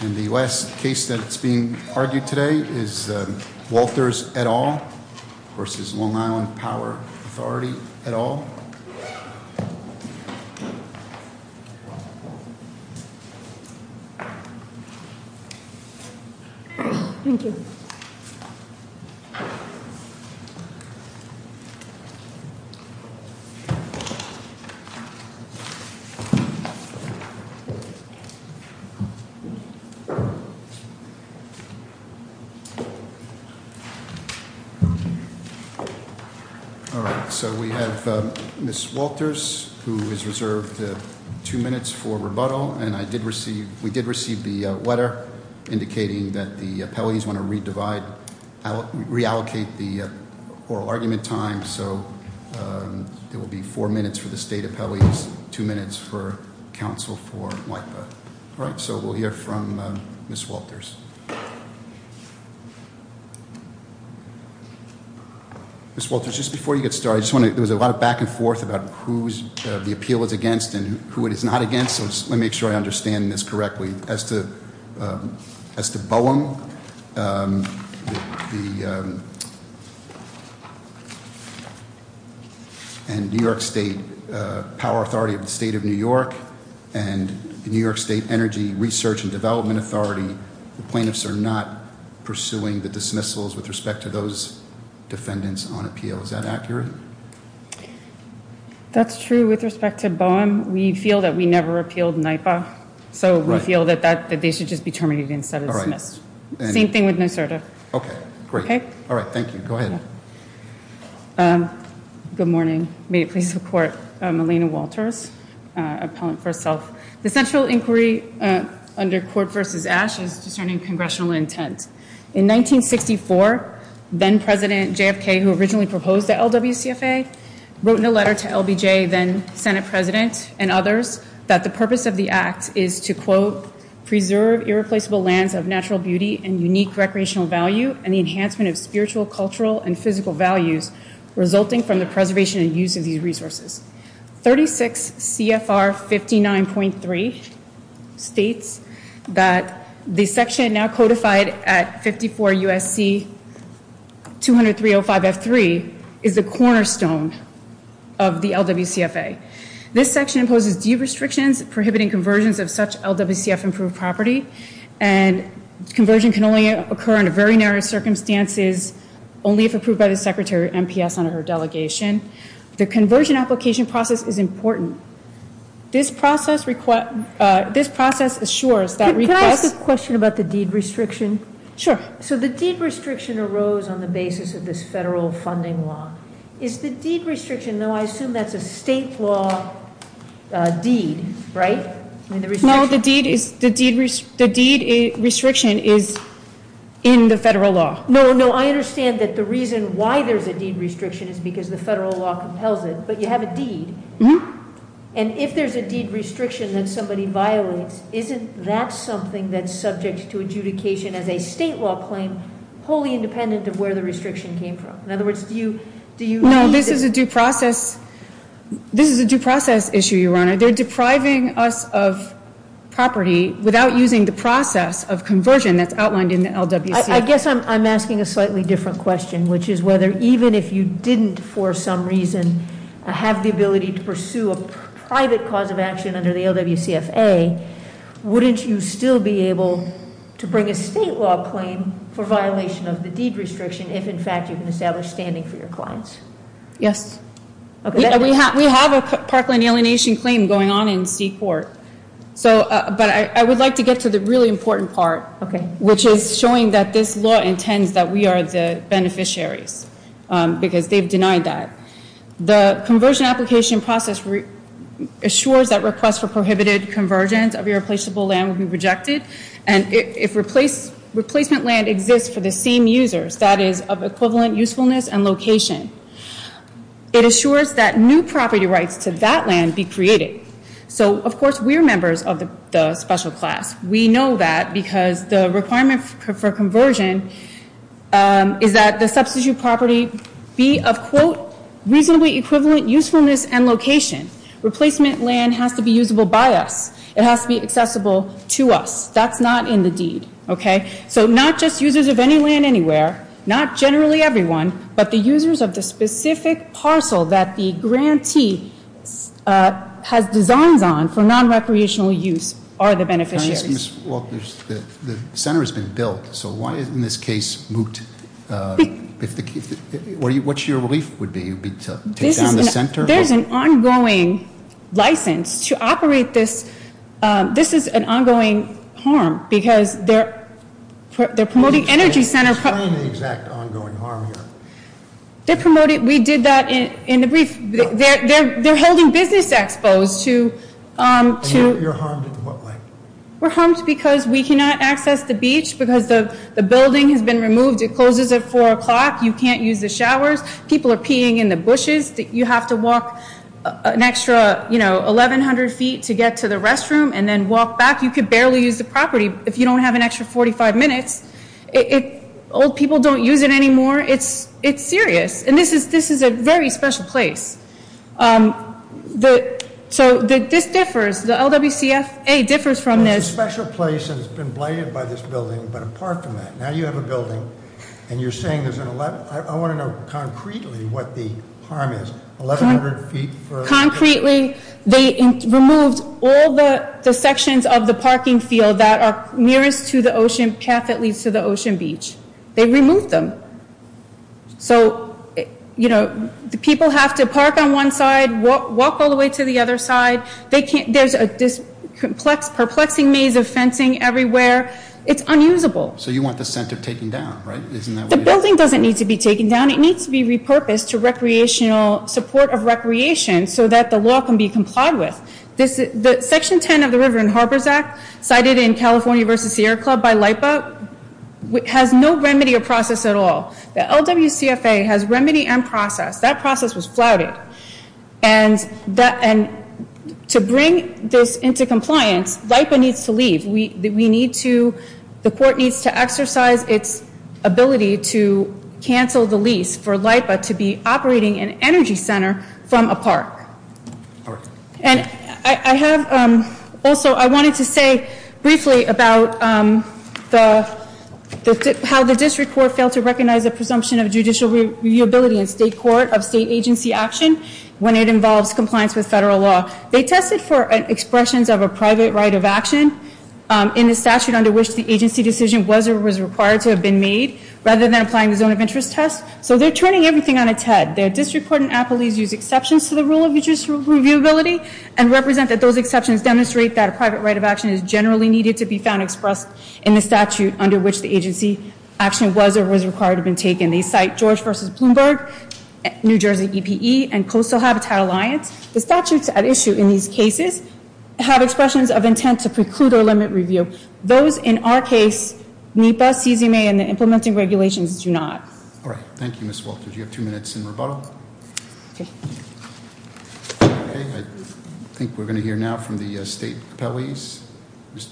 And the last case that's being argued today is Walters et al, versus Long Island Power Authority et al. All right, so we have Ms. Walters, who is reserved two minutes for rebuttal, and we did receive the letter indicating that the appellees want to reallocate the oral argument time, so there will be four minutes for the state appellees, two minutes for counsel for WIPA. All right, so we'll hear from Ms. Walters. Ms. Walters, just before you get started, there was a lot of back and forth about who the appeal is against and who it is not against, so let me make sure I understand this correctly. As to Boehm, the New York State Power Authority of the State of New York, and the New York State Energy Research and Development Authority, the plaintiffs are not pursuing the dismissals with respect to those defendants on appeal. Is that accurate? That's true with respect to Boehm. We feel that we never appealed NIPA, so we feel that they should just be terminated instead of dismissed. Same thing with NYSERDA. Okay, great. All right, thank you. Go ahead. Good morning. May it please the Court, I'm Alina Walters, appellant for self. The central inquiry under court versus ash is discerning congressional intent. In 1964, then President JFK, who originally proposed the LWCFA, wrote in a letter to LBJ, then Senate President, and others, that the purpose of the act is to, quote, that 54 U.S.C. 203.05.F.3 is the cornerstone of the LWCFA. This section imposes deed restrictions, prohibiting conversions of such LWCF-improved property, and conversion can only occur under very narrow circumstances, only if approved by the Secretary of MPS under her delegation. The conversion application process is important. This process assures that requests- Can I ask a question about the deed restriction? Sure. So the deed restriction arose on the basis of this federal funding law. Is the deed restriction, though I assume that's a state law deed, right? No, the deed restriction is in the federal law. No, I understand that the reason why there's a deed restriction is because the federal law compels it, but you have a deed. Mm-hmm. And if there's a deed restriction that somebody violates, isn't that something that's subject to adjudication as a state law claim, wholly independent of where the restriction came from? In other words, do you- No, this is a due process issue, Your Honor. They're depriving us of property without using the process of conversion that's outlined in the LWC- I guess I'm asking a slightly different question, which is whether even if you didn't, for some reason, have the ability to pursue a private cause of action under the LWCFA, wouldn't you still be able to bring a state law claim for violation of the deed restriction if, in fact, you can establish standing for your clients? Yes. We have a parkland alienation claim going on in C Court, but I would like to get to the really important part, which is showing that this law intends that we are the beneficiaries because they've denied that. The conversion application process assures that requests for prohibited convergence of irreplaceable land will be rejected, and if replacement land exists for the same users, that is of equivalent usefulness and location. It assures that new property rights to that land be created. So, of course, we're members of the special class. We know that because the requirement for conversion is that the substitute property be of, quote, reasonably equivalent usefulness and location. Replacement land has to be usable by us. It has to be accessible to us. That's not in the deed, okay? So not just users of any land anywhere, not generally everyone, but the users of the specific parcel that the grantee has designs on for non-recreational use are the beneficiaries. Ms. Walters, the center has been built, so why isn't this case moot? What's your relief would be? Take down the center? There's an ongoing license to operate this. This is an ongoing harm because they're promoting energy center- Why an exact ongoing harm here? We did that in the brief. They're holding business exposed to- You're harmed in what way? We're harmed because we cannot access the beach because the building has been removed. It closes at 4 o'clock. You can't use the showers. People are peeing in the bushes. You have to walk an extra, you know, 1,100 feet to get to the restroom and then walk back. You could barely use the property if you don't have an extra 45 minutes. Old people don't use it anymore. It's serious. And this is a very special place. So this differs. The LWCFA differs from this. It's a special place and it's been blighted by this building, but apart from that, now you have a building and you're saying there's an 11- I want to know concretely what the harm is. 1,100 feet for- Concretely, they removed all the sections of the parking field that are nearest to the ocean path that leads to the ocean beach. They removed them. So, you know, the people have to park on one side, walk all the way to the other side. There's a perplexing maze of fencing everywhere. It's unusable. So you want the center taken down, right? Isn't that what it is? The building doesn't need to be taken down. It needs to be repurposed to recreational support of recreation so that the law can be complied with. Section 10 of the River and Harbors Act, cited in California v. Sierra Club by LIPA, has no remedy or process at all. The LWCFA has remedy and process. That process was flouted. And to bring this into compliance, LIPA needs to leave. The court needs to exercise its ability to cancel the lease for LIPA to be operating an energy center from a park. And I have also, I wanted to say briefly about how the district court failed to recognize the presumption of judicial liability in state court of state agency action when it involves compliance with federal law. They tested for expressions of a private right of action in the statute under which the agency decision was or was required to have been made rather than applying the zone of interest test. So they're turning everything on its head. The district court and appellees use exceptions to the rule of judicial reviewability and represent that those exceptions demonstrate that a private right of action is generally needed to be found expressed in the statute under which the agency action was or was required to have been taken. They cite George v. Bloomberg, New Jersey EPE, and Coastal Habitat Alliance. The statutes at issue in these cases have expressions of intent to preclude or limit review. Those in our case, NEPA, CZMA, and the implementing regulations do not. All right, thank you, Ms. Walter. Do you have two minutes in rebuttal? Okay. Okay, I think we're going to hear now from the state appellees. Ms.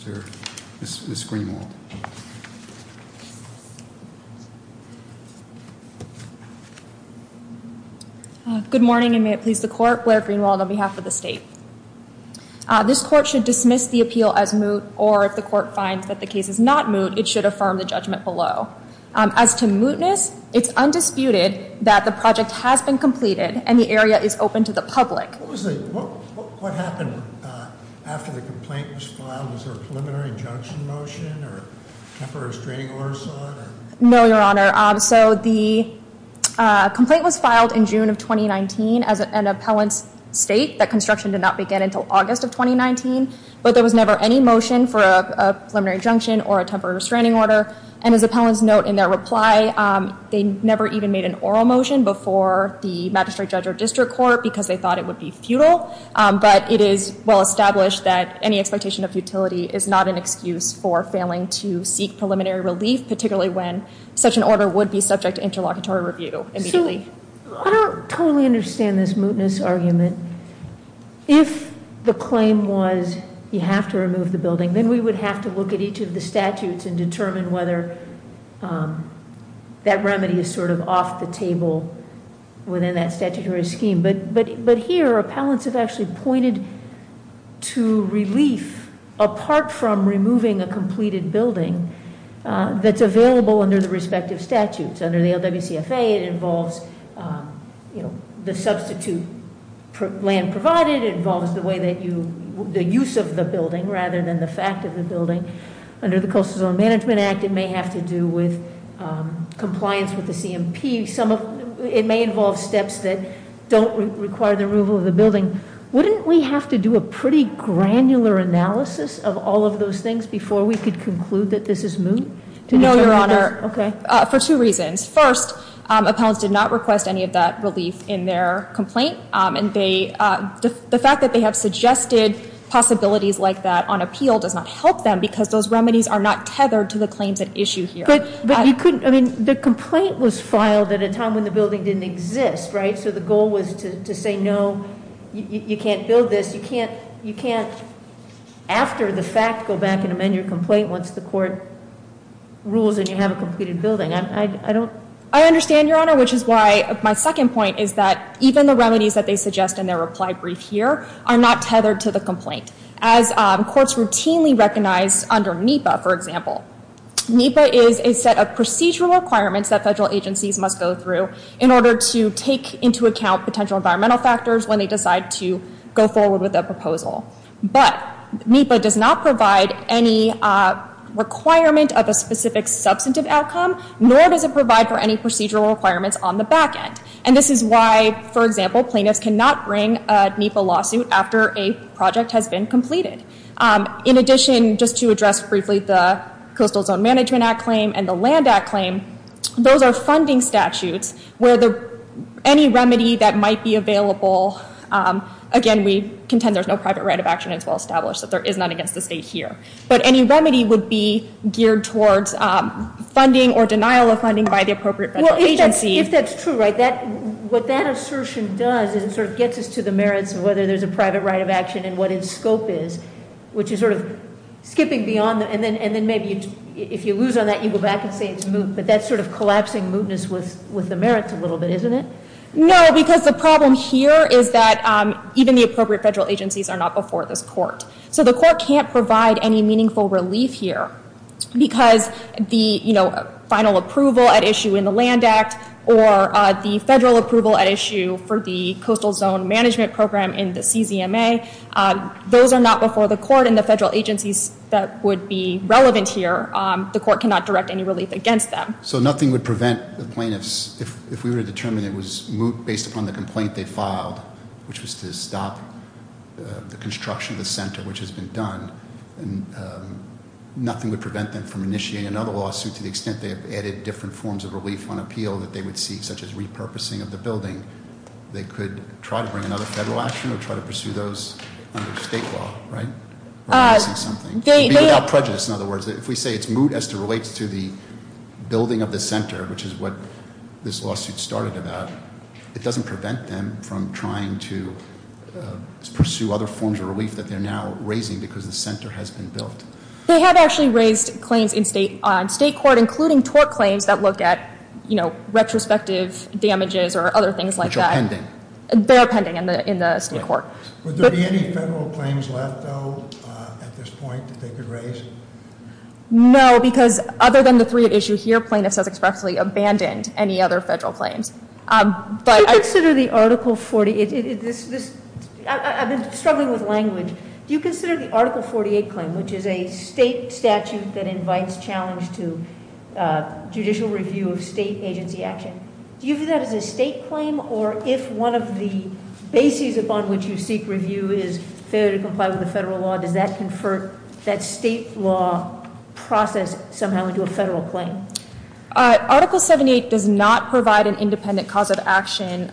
Greenwald. Good morning, and may it please the court. Blair Greenwald on behalf of the state. This court should dismiss the appeal as moot, or if the court finds that the case is not moot, it should affirm the judgment below. As to mootness, it's undisputed that the project has been completed and the area is open to the public. What happened after the complaint was filed? Was there a preliminary injunction motion? No, Your Honor. So the complaint was filed in June of 2019 as an appellant's state that construction did not begin until August of 2019. But there was never any motion for a preliminary injunction or a temporary restraining order. And as appellants note in their reply, they never even made an oral motion before the magistrate judge or district court because they thought it would be futile. But it is well established that any expectation of futility is not an excuse for failing to seek preliminary relief, particularly when such an order would be subject to interlocutory review immediately. I don't totally understand this mootness argument. If the claim was you have to remove the building, then we would have to look at each of the statutes and determine whether that remedy is sort of off the table within that statutory scheme. But here, appellants have actually pointed to relief apart from removing a completed building that's available under the respective statutes. Under the LWCFA, it involves the substitute land provided. It involves the use of the building rather than the fact of the building. Under the Coastal Zone Management Act, it may have to do with compliance with the CMP. It may involve steps that don't require the removal of the building. Wouldn't we have to do a pretty granular analysis of all of those things before we could conclude that this is moot? No, Your Honor. Okay. For two reasons. First, appellants did not request any of that relief in their complaint. And the fact that they have suggested possibilities like that on appeal does not help them because those remedies are not tethered to the claims at issue here. The complaint was filed at a time when the building didn't exist, right? So the goal was to say, no, you can't build this. You can't, after the fact, go back and amend your complaint once the court rules and you have a completed building. I understand, Your Honor, which is why my second point is that even the remedies that they suggest in their reply brief here are not tethered to the complaint. As courts routinely recognize under NEPA, for example. NEPA is a set of procedural requirements that federal agencies must go through in order to take into account potential environmental factors when they decide to go forward with a proposal. But NEPA does not provide any requirement of a specific substantive outcome, nor does it provide for any procedural requirements on the back end. And this is why, for example, plaintiffs cannot bring a NEPA lawsuit after a project has been completed. In addition, just to address briefly the Coastal Zone Management Act claim and the Land Act claim, those are funding statutes where any remedy that might be available, again, we contend there's no private right of action as well established, so there is none against the state here. But any remedy would be geared towards funding or denial of funding by the appropriate federal agency. Well, if that's true, right, what that assertion does is it sort of gets us to the merits of whether there's a private right of action and what its scope is, which is sort of skipping beyond. And then maybe if you lose on that, you go back and say it's moot. But that's sort of collapsing mootness with the merits a little bit, isn't it? No, because the problem here is that even the appropriate federal agencies are not before this court. So the court can't provide any meaningful relief here because the final approval at issue in the Land Act or the federal approval at issue for the Coastal Zone Management Program in the CZMA, those are not before the court and the federal agencies that would be relevant here. The court cannot direct any relief against them. So nothing would prevent the plaintiffs, if we were to determine it was moot based upon the complaint they filed, which was to stop the construction of the center, which has been done, nothing would prevent them from initiating another lawsuit to the extent they have added different forms of relief on appeal that they would seek, such as repurposing of the building. They could try to bring another federal action or try to pursue those under state law, right? We're missing something. It should be without prejudice, in other words. If we say it's moot as it relates to the building of the center, which is what this lawsuit started about, it doesn't prevent them from trying to pursue other forms of relief that they're now raising because the center has been built. They have actually raised claims in state court, including tort claims that look at retrospective damages or other things like that. Which are pending. They're pending in the state court. Would there be any federal claims left, though, at this point that they could raise? No, because other than the three at issue here, plaintiffs has expressly abandoned any other federal claims. Do you consider the Article 48, I've been struggling with language. Do you consider the Article 48 claim, which is a state statute that invites challenge to judicial review of state agency action. Do you view that as a state claim, or if one of the bases upon which you seek review is failure to comply with the federal law, does that convert that state law process somehow into a federal claim? Article 78 does not provide an independent cause of action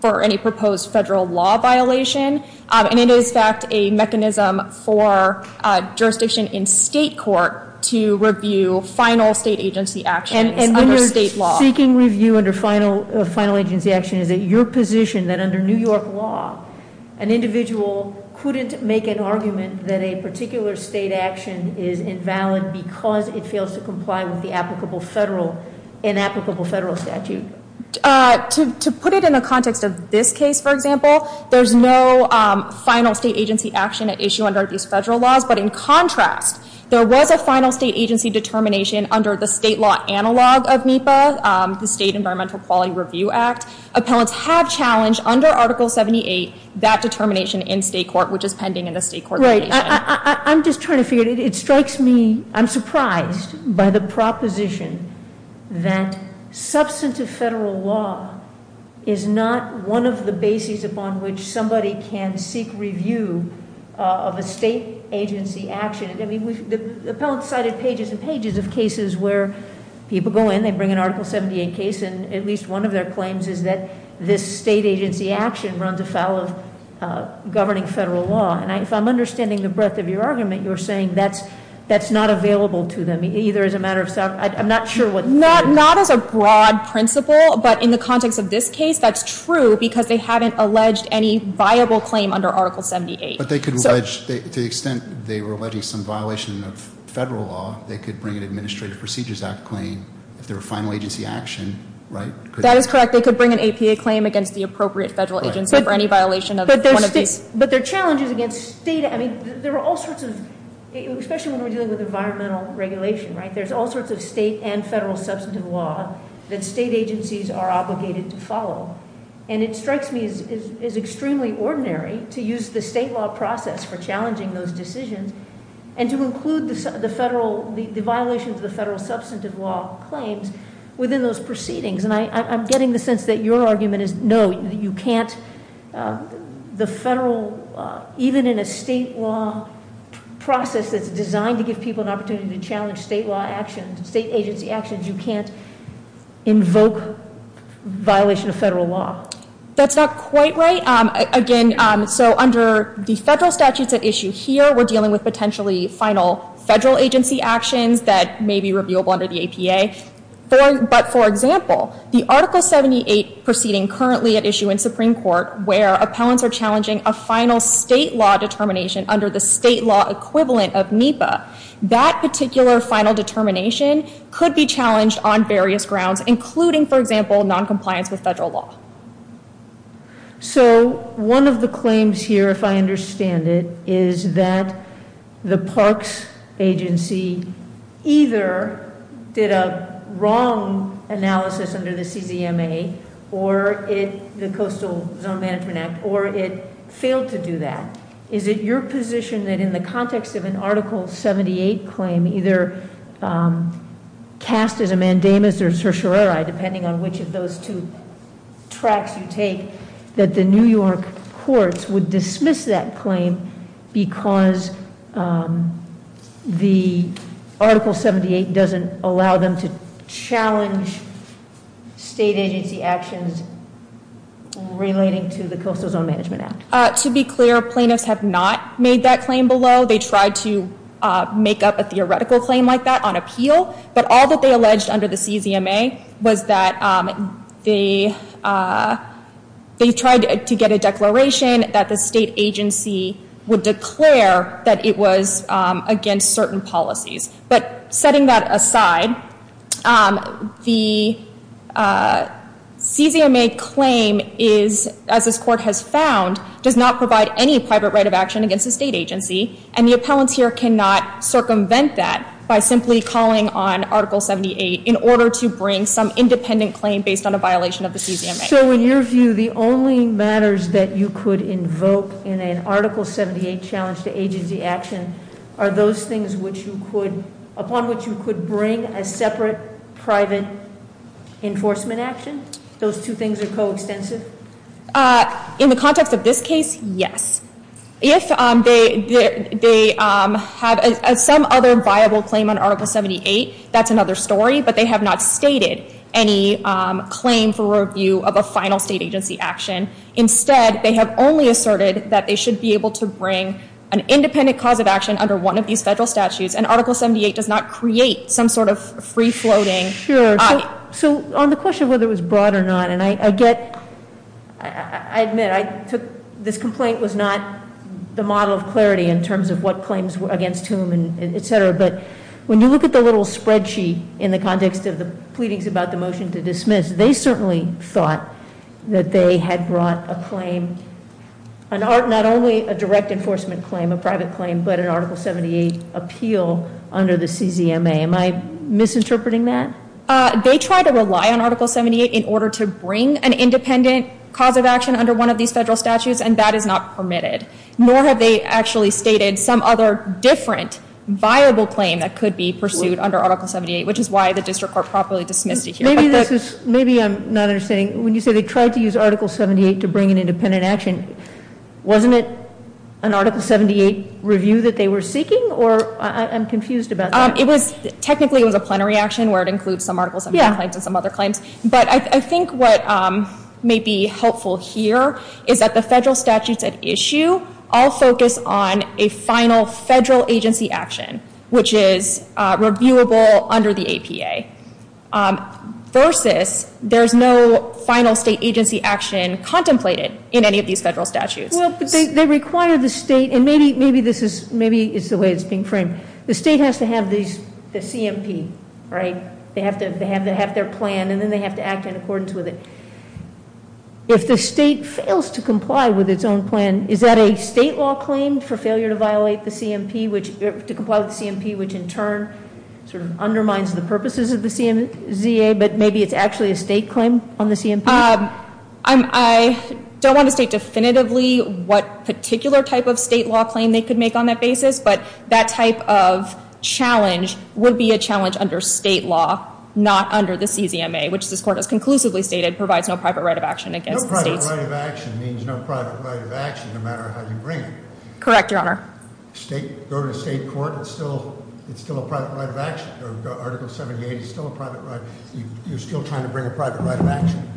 for any proposed federal law violation. And it is in fact a mechanism for jurisdiction in state court to review final state agency actions under state law. And when you're seeking review under final agency action, is it your position that under New York law, an individual couldn't make an argument that a particular state action is invalid because it fails to comply with the inapplicable federal statute? To put it in the context of this case, for example, there's no final state agency action at issue under these federal laws. But in contrast, there was a final state agency determination under the state law analog of NEPA, the State Environmental Quality Review Act. Appellants have challenged under Article 78 that determination in state court, which is pending in the state court. Right, I'm just trying to figure it. It strikes me, I'm surprised by the proposition that substantive federal law is not one of the bases upon which somebody can seek review of a state agency action. The appellant cited pages and pages of cases where people go in, they bring an Article 78 case, and at least one of their claims is that this state agency action runs afoul of governing federal law. And if I'm understanding the breadth of your argument, you're saying that's not available to them either as a matter of, I'm not sure what- Not as a broad principle, but in the context of this case, that's true because they haven't alleged any viable claim under Article 78. But they could allege, to the extent they were alleging some violation of federal law, they could bring an Administrative Procedures Act claim if they're a final agency action, right? That is correct, they could bring an APA claim against the appropriate federal agency for any violation of one of these. But their challenge is against state, I mean, there are all sorts of, especially when we're dealing with environmental regulation, right? There's all sorts of state and federal substantive law that state agencies are obligated to follow. And it strikes me as extremely ordinary to use the state law process for challenging those decisions and to include the violations of the federal substantive law claims within those proceedings. And I'm getting the sense that your argument is no, you can't, the federal, even in a state law process that's designed to give people an opportunity to challenge state law actions, state agency actions, you can't invoke violation of federal law. That's not quite right. Again, so under the federal statutes at issue here, we're dealing with potentially final federal agency actions that may be reviewable under the APA. But for example, the Article 78 proceeding currently at issue in Supreme Court, where appellants are challenging a final state law determination under the state law equivalent of NEPA, that particular final determination could be challenged on various grounds, including, for example, noncompliance with federal law. So one of the claims here, if I understand it, is that the parks agency either did a wrong analysis under the CZMA or the Coastal Zone Management Act, or it failed to do that. Is it your position that in the context of an Article 78 claim, either cast as a mandamus or certiorari, depending on which of those two tracks you take, that the New York courts would dismiss that claim because the Article 78 doesn't allow them to challenge state agency actions relating to the Coastal Zone Management Act? To be clear, plaintiffs have not made that claim below. They tried to make up a theoretical claim like that on appeal. But all that they alleged under the CZMA was that they tried to get a declaration that the state agency would declare that it was against certain policies. But setting that aside, the CZMA claim is, as this court has found, does not provide any private right of action against a state agency. And the appellants here cannot circumvent that by simply calling on Article 78 in order to bring some independent claim based on a violation of the CZMA. So in your view, the only matters that you could invoke in an Article 78 challenge to agency action are those things upon which you could bring a separate private enforcement action? Those two things are coextensive? In the context of this case, yes. If they have some other viable claim on Article 78, that's another story. But they have not stated any claim for review of a final state agency action. Instead, they have only asserted that they should be able to bring an independent cause of action under one of these federal statutes. And Article 78 does not create some sort of free-floating… Sure. So on the question of whether it was brought or not, and I get, I admit, this complaint was not the model of clarity in terms of what claims were against whom, etc. But when you look at the little spreadsheet in the context of the pleadings about the motion to dismiss, they certainly thought that they had brought a claim, not only a direct enforcement claim, a private claim, but an Article 78 appeal under the CZMA. Am I misinterpreting that? They tried to rely on Article 78 in order to bring an independent cause of action under one of these federal statutes, and that is not permitted. Nor have they actually stated some other different viable claim that could be pursued under Article 78, which is why the district court properly dismissed it here. Maybe I'm not understanding. When you say they tried to use Article 78 to bring an independent action, wasn't it an Article 78 review that they were seeking? Or I'm confused about that. Technically, it was a plenary action where it includes some Article 78 claims and some other claims. But I think what may be helpful here is that the federal statutes at issue all focus on a final federal agency action, which is reviewable under the APA, versus there's no final state agency action contemplated in any of these federal statutes. Well, but they require the state, and maybe it's the way it's being framed. The state has to have the CMP, right? They have to have their plan, and then they have to act in accordance with it. If the state fails to comply with its own plan, is that a state law claim for failure to violate the CMP, to comply with the CMP, which in turn sort of undermines the purposes of the CMA, but maybe it's actually a state claim on the CMP? I don't want to state definitively what particular type of state law claim they could make on that basis, but that type of challenge would be a challenge under state law, not under the CZMA, which this court has conclusively stated provides no private right of action against the states. No private right of action means no private right of action, no matter how you bring it. Correct, Your Honor. Go to a state court, it's still a private right of action. Article 78 is still a private right. You're still trying to bring a private right of action?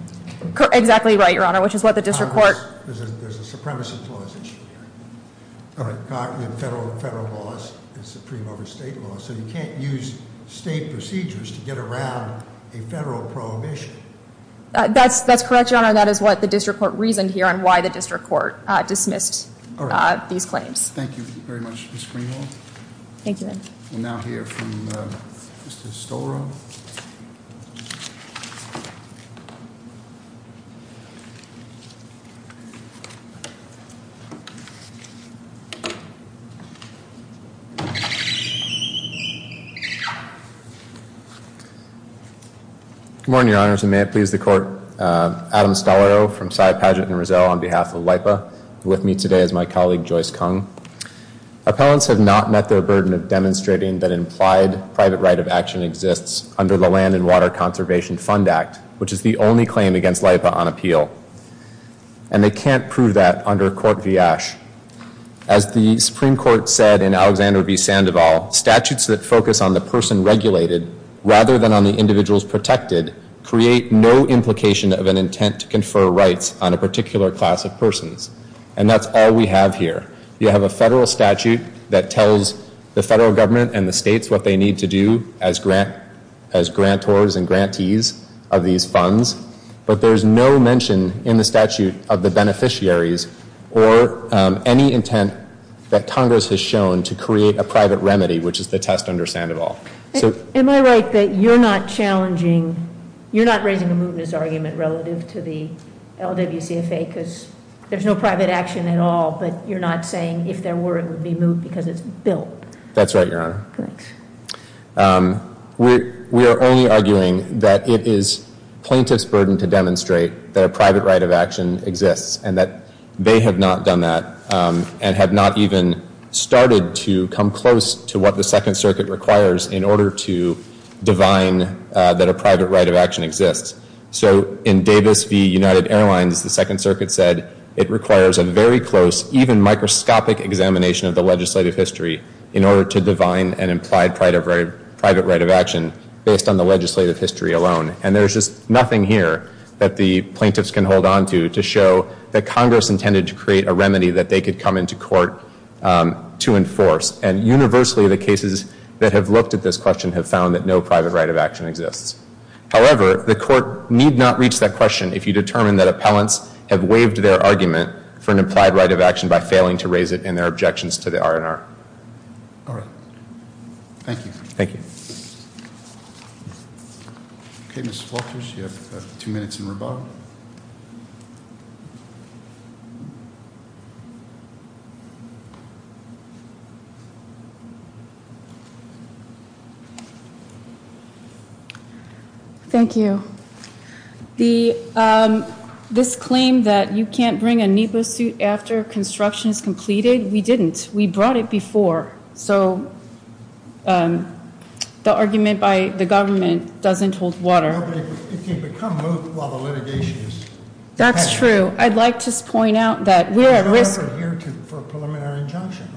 Exactly right, Your Honor, which is what the district court- There's a supremacy clause issue here. Federal laws is supreme over state laws, so you can't use state procedures to get around a federal prohibition. That's correct, Your Honor. That is what the district court reasoned here and why the district court dismissed these claims. Thank you very much, Ms. Greenwald. Thank you. We'll now hear from Mr. Stolarow. Good morning, Your Honors, and may it please the court. Adam Stolarow from Cy Paget and Rizzo on behalf of LIPA, with me today is my colleague Joyce Kung. Appellants have not met their burden of demonstrating that an implied private right of action exists under the Land and Water Conservation Fund Act, which is the only claim against LIPA on appeal. And they can't prove that under Court v. Ash. As the Supreme Court said in Alexander v. Sandoval, statutes that focus on the person regulated rather than on the individuals protected create no implication of an intent to confer rights on a particular class of persons. And that's all we have here. You have a federal statute that tells the federal government and the states what they need to do as grantors and grantees of these funds, but there's no mention in the statute of the beneficiaries or any intent that Congress has shown to create a private remedy, which is the test under Sandoval. Am I right that you're not challenging, you're not raising a mootness argument relative to the LWCFA because there's no private action at all, but you're not saying if there were it would be moot because it's built? That's right, Your Honor. We are only arguing that it is plaintiff's burden to demonstrate that a private right of action exists and that they have not done that and have not even started to come close to what the Second Circuit requires in order to divine that a private right of action exists. So in Davis v. United Airlines, the Second Circuit said it requires a very close, even microscopic examination of the legislative history in order to divine an implied private right of action based on the legislative history alone. And there's just nothing here that the plaintiffs can hold onto to show that Congress intended to create a remedy that they could come into court to enforce. And universally the cases that have looked at this question have found that no private right of action exists. However, the court need not reach that question if you determine that appellants have waived their argument for an implied right of action by failing to raise it in their objections to the R&R. All right. Thank you. Thank you. Okay, Ms. Walters, you have two minutes in rebuttal. Thank you. This claim that you can't bring a NEPA suit after construction is completed, we didn't. We brought it before. So the argument by the government doesn't hold water. It can become moved while the litigation is happening. That's true. I'd like to point out that we are at risk. Have you ever heard for a preliminary injunction?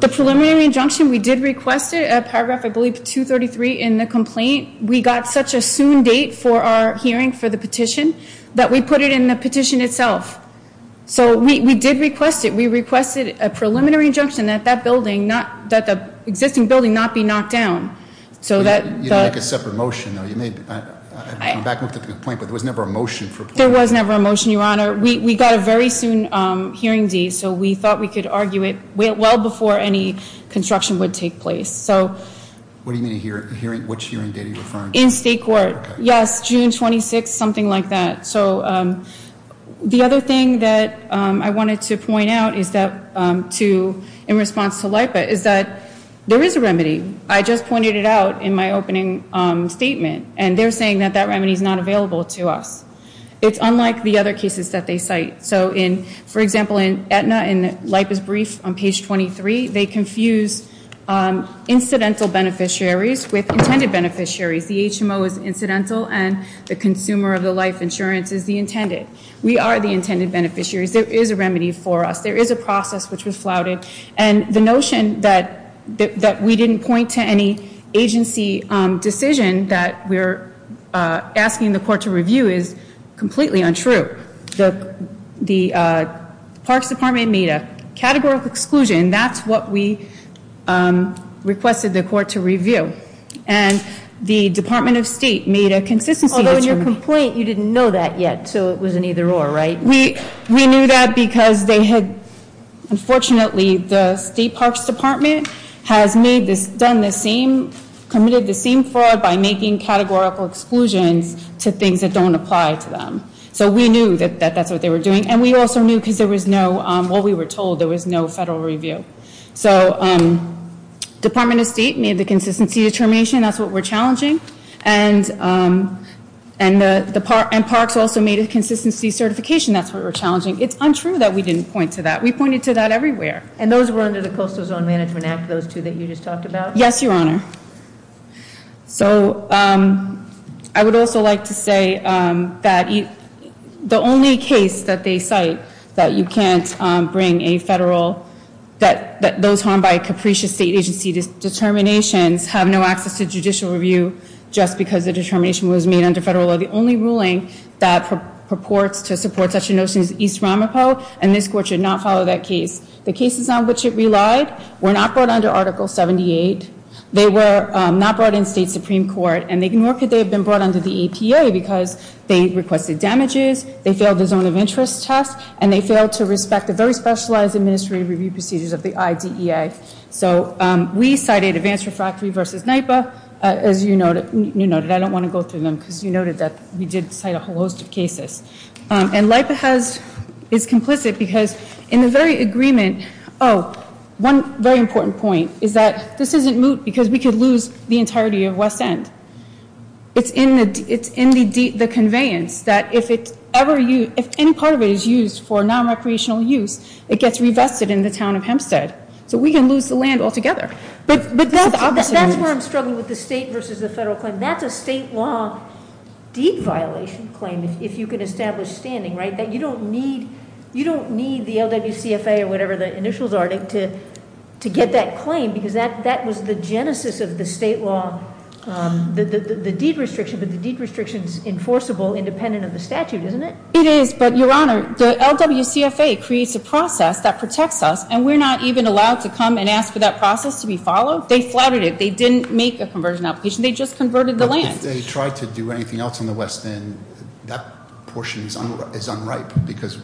The preliminary injunction, we did request it at paragraph, I believe, 233 in the complaint. We got such a soon date for our hearing for the petition that we put it in the petition itself. So we did request it. We requested a preliminary injunction that that building, that the existing building not be knocked down. So that- You didn't make a separate motion, though. You made, I'm back with the complaint, but there was never a motion for a complaint. There was never a motion, Your Honor. We got a very soon hearing date. So we thought we could argue it well before any construction would take place. So- What do you mean hearing, which hearing date are you referring to? In state court. Okay. Yes, June 26th, something like that. So the other thing that I wanted to point out is that to, in response to LIPA, is that there is a remedy. I just pointed it out in my opening statement, and they're saying that that remedy is not available to us. It's unlike the other cases that they cite. So in, for example, in Aetna, in LIPA's brief on page 23, they confuse incidental beneficiaries with intended beneficiaries. The HMO is incidental, and the consumer of the life insurance is the intended. We are the intended beneficiaries. There is a remedy for us. There is a process which was flouted. And the notion that we didn't point to any agency decision that we're asking the court to review is completely untrue. The Parks Department made a categorical exclusion. That's what we requested the court to review. And the Department of State made a consistency. Although in your complaint, you didn't know that yet, so it was an either or, right? We knew that because they had, unfortunately, the State Parks Department has made this, done this same, committed the same fraud by making categorical exclusions to things that don't apply to them. So we knew that that's what they were doing. And we also knew because there was no, well, we were told there was no federal review. So Department of State made the consistency determination. That's what we're challenging. And Parks also made a consistency certification. That's what we're challenging. It's untrue that we didn't point to that. We pointed to that everywhere. And those were under the Coastal Zone Management Act, those two that you just talked about? Yes, Your Honor. So I would also like to say that the only case that they cite that you can't bring a federal, that those harmed by a capricious state agency determinations have no access to judicial review just because the determination was made under federal law. The only ruling that purports to support such a notion is East Ramapo, and this court should not follow that case. The cases on which it relied were not brought under Article 78. They were not brought in State Supreme Court, and nor could they have been brought under the EPA because they requested damages, they failed the zone of interest test, and they failed to respect the very specialized administrative review procedures of the IDEA. So we cited Advance Refractory v. NYPA. As you noted, I don't want to go through them because you noted that we did cite a whole host of cases. And NYPA is complicit because in the very agreement, oh, one very important point, is that this isn't moot because we could lose the entirety of West End. It's in the conveyance that if any part of it is used for nonrecreational use, it gets revested in the town of Hempstead. So we can lose the land altogether. But that's where I'm struggling with the state versus the federal claim. That's a state law deed violation claim, if you can establish standing, right, that you don't need the LWCFA or whatever the initials are to get that claim. Because that was the genesis of the state law, the deed restriction. But the deed restriction's enforceable independent of the statute, isn't it? It is, but Your Honor, the LWCFA creates a process that protects us. And we're not even allowed to come and ask for that process to be followed. They flouted it. They didn't make a conversion application. They just converted the land. If they tried to do anything else on the West End, that portion is unripe because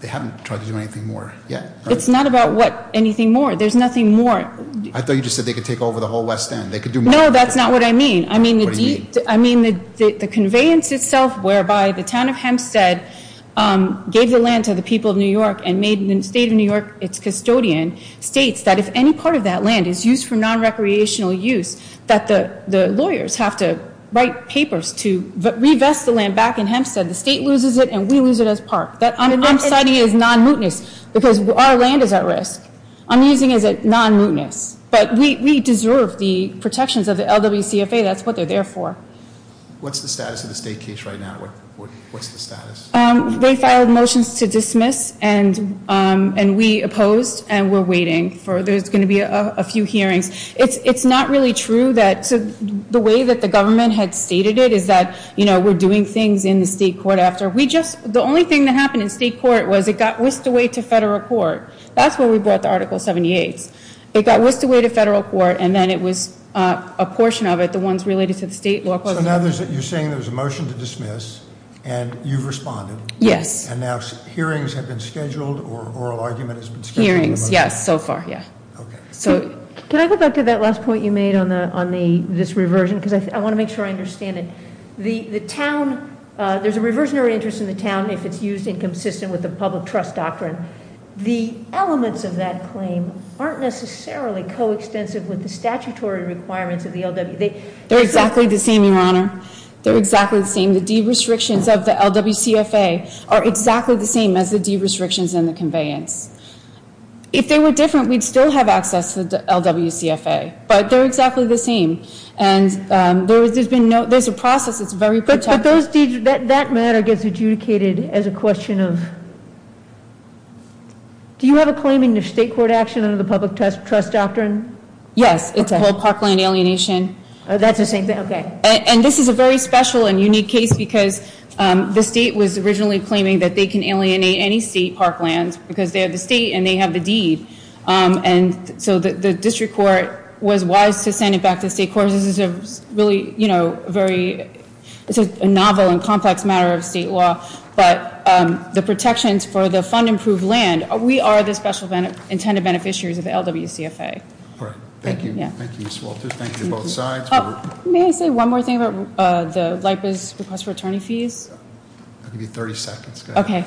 they haven't tried to do anything more yet. It's not about what? Anything more. There's nothing more. I thought you just said they could take over the whole West End. They could do much more. No, that's not what I mean. What do you mean? I mean the conveyance itself whereby the town of Hempstead gave the land to the people of New York and made the state of New York its custodian states that if any part of that land is used for non-recreational use, that the lawyers have to write papers to revest the land back in Hempstead. The state loses it, and we lose it as part. I'm citing it as non-mootness because our land is at risk. I'm using it as non-mootness. But we deserve the protections of the LWCFA. That's what they're there for. What's the status of the state case right now? What's the status? They filed motions to dismiss, and we opposed, and we're waiting. There's going to be a few hearings. It's not really true that the way that the government had stated it is that we're doing things in the state court after. The only thing that happened in state court was it got whisked away to federal court. That's when we brought the Article 78s. It got whisked away to federal court, and then it was a portion of it, the ones related to the state law. So now you're saying there's a motion to dismiss, and you've responded? Yes. And now hearings have been scheduled, or oral argument has been scheduled? Hearings, yes, so far, yeah. So can I go back to that last point you made on this reversion? Because I want to make sure I understand it. The town, there's a reversionary interest in the town if it's used inconsistent with the public trust doctrine. The elements of that claim aren't necessarily coextensive with the statutory requirements of the LWC. They're exactly the same, Your Honor. They're exactly the same. The deed restrictions of the LWCFA are exactly the same as the deed restrictions in the conveyance. If they were different, we'd still have access to the LWCFA, but they're exactly the same. And there's a process that's very protective. But that matter gets adjudicated as a question of, do you have a claim in the state court action under the public trust doctrine? Yes, it's called parkland alienation. That's the same thing? Okay. And this is a very special and unique case because the state was originally claiming that they can alienate any state parklands because they have the state and they have the deed. And so the district court was wise to send it back to the state court. This is a really, you know, very novel and complex matter of state law. But the protections for the fund-improved land, we are the special intended beneficiaries of the LWCFA. Thank you. Thank you, Ms. Walters. Thank you to both sides. May I say one more thing about the LIPA's request for attorney fees? I'll give you 30 seconds. Okay.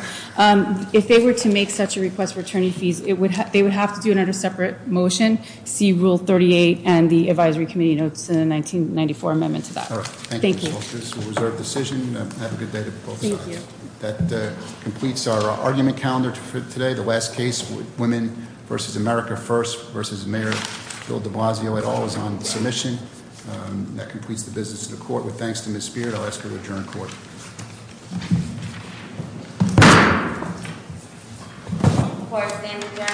If they were to make such a request for attorney fees, they would have to do another separate motion, see rule 38 and the advisory committee notes in the 1994 amendment to that. All right. Thank you. Thank you, Ms. Walters. Thank you for your decision. Have a good day to both sides. Thank you. That completes our argument calendar for today. The last case, Women v. America First v. Mayor Bill de Blasio et al. is on submission. That completes the business of the court. With thanks to Ms. Spear, I'll ask her to adjourn court.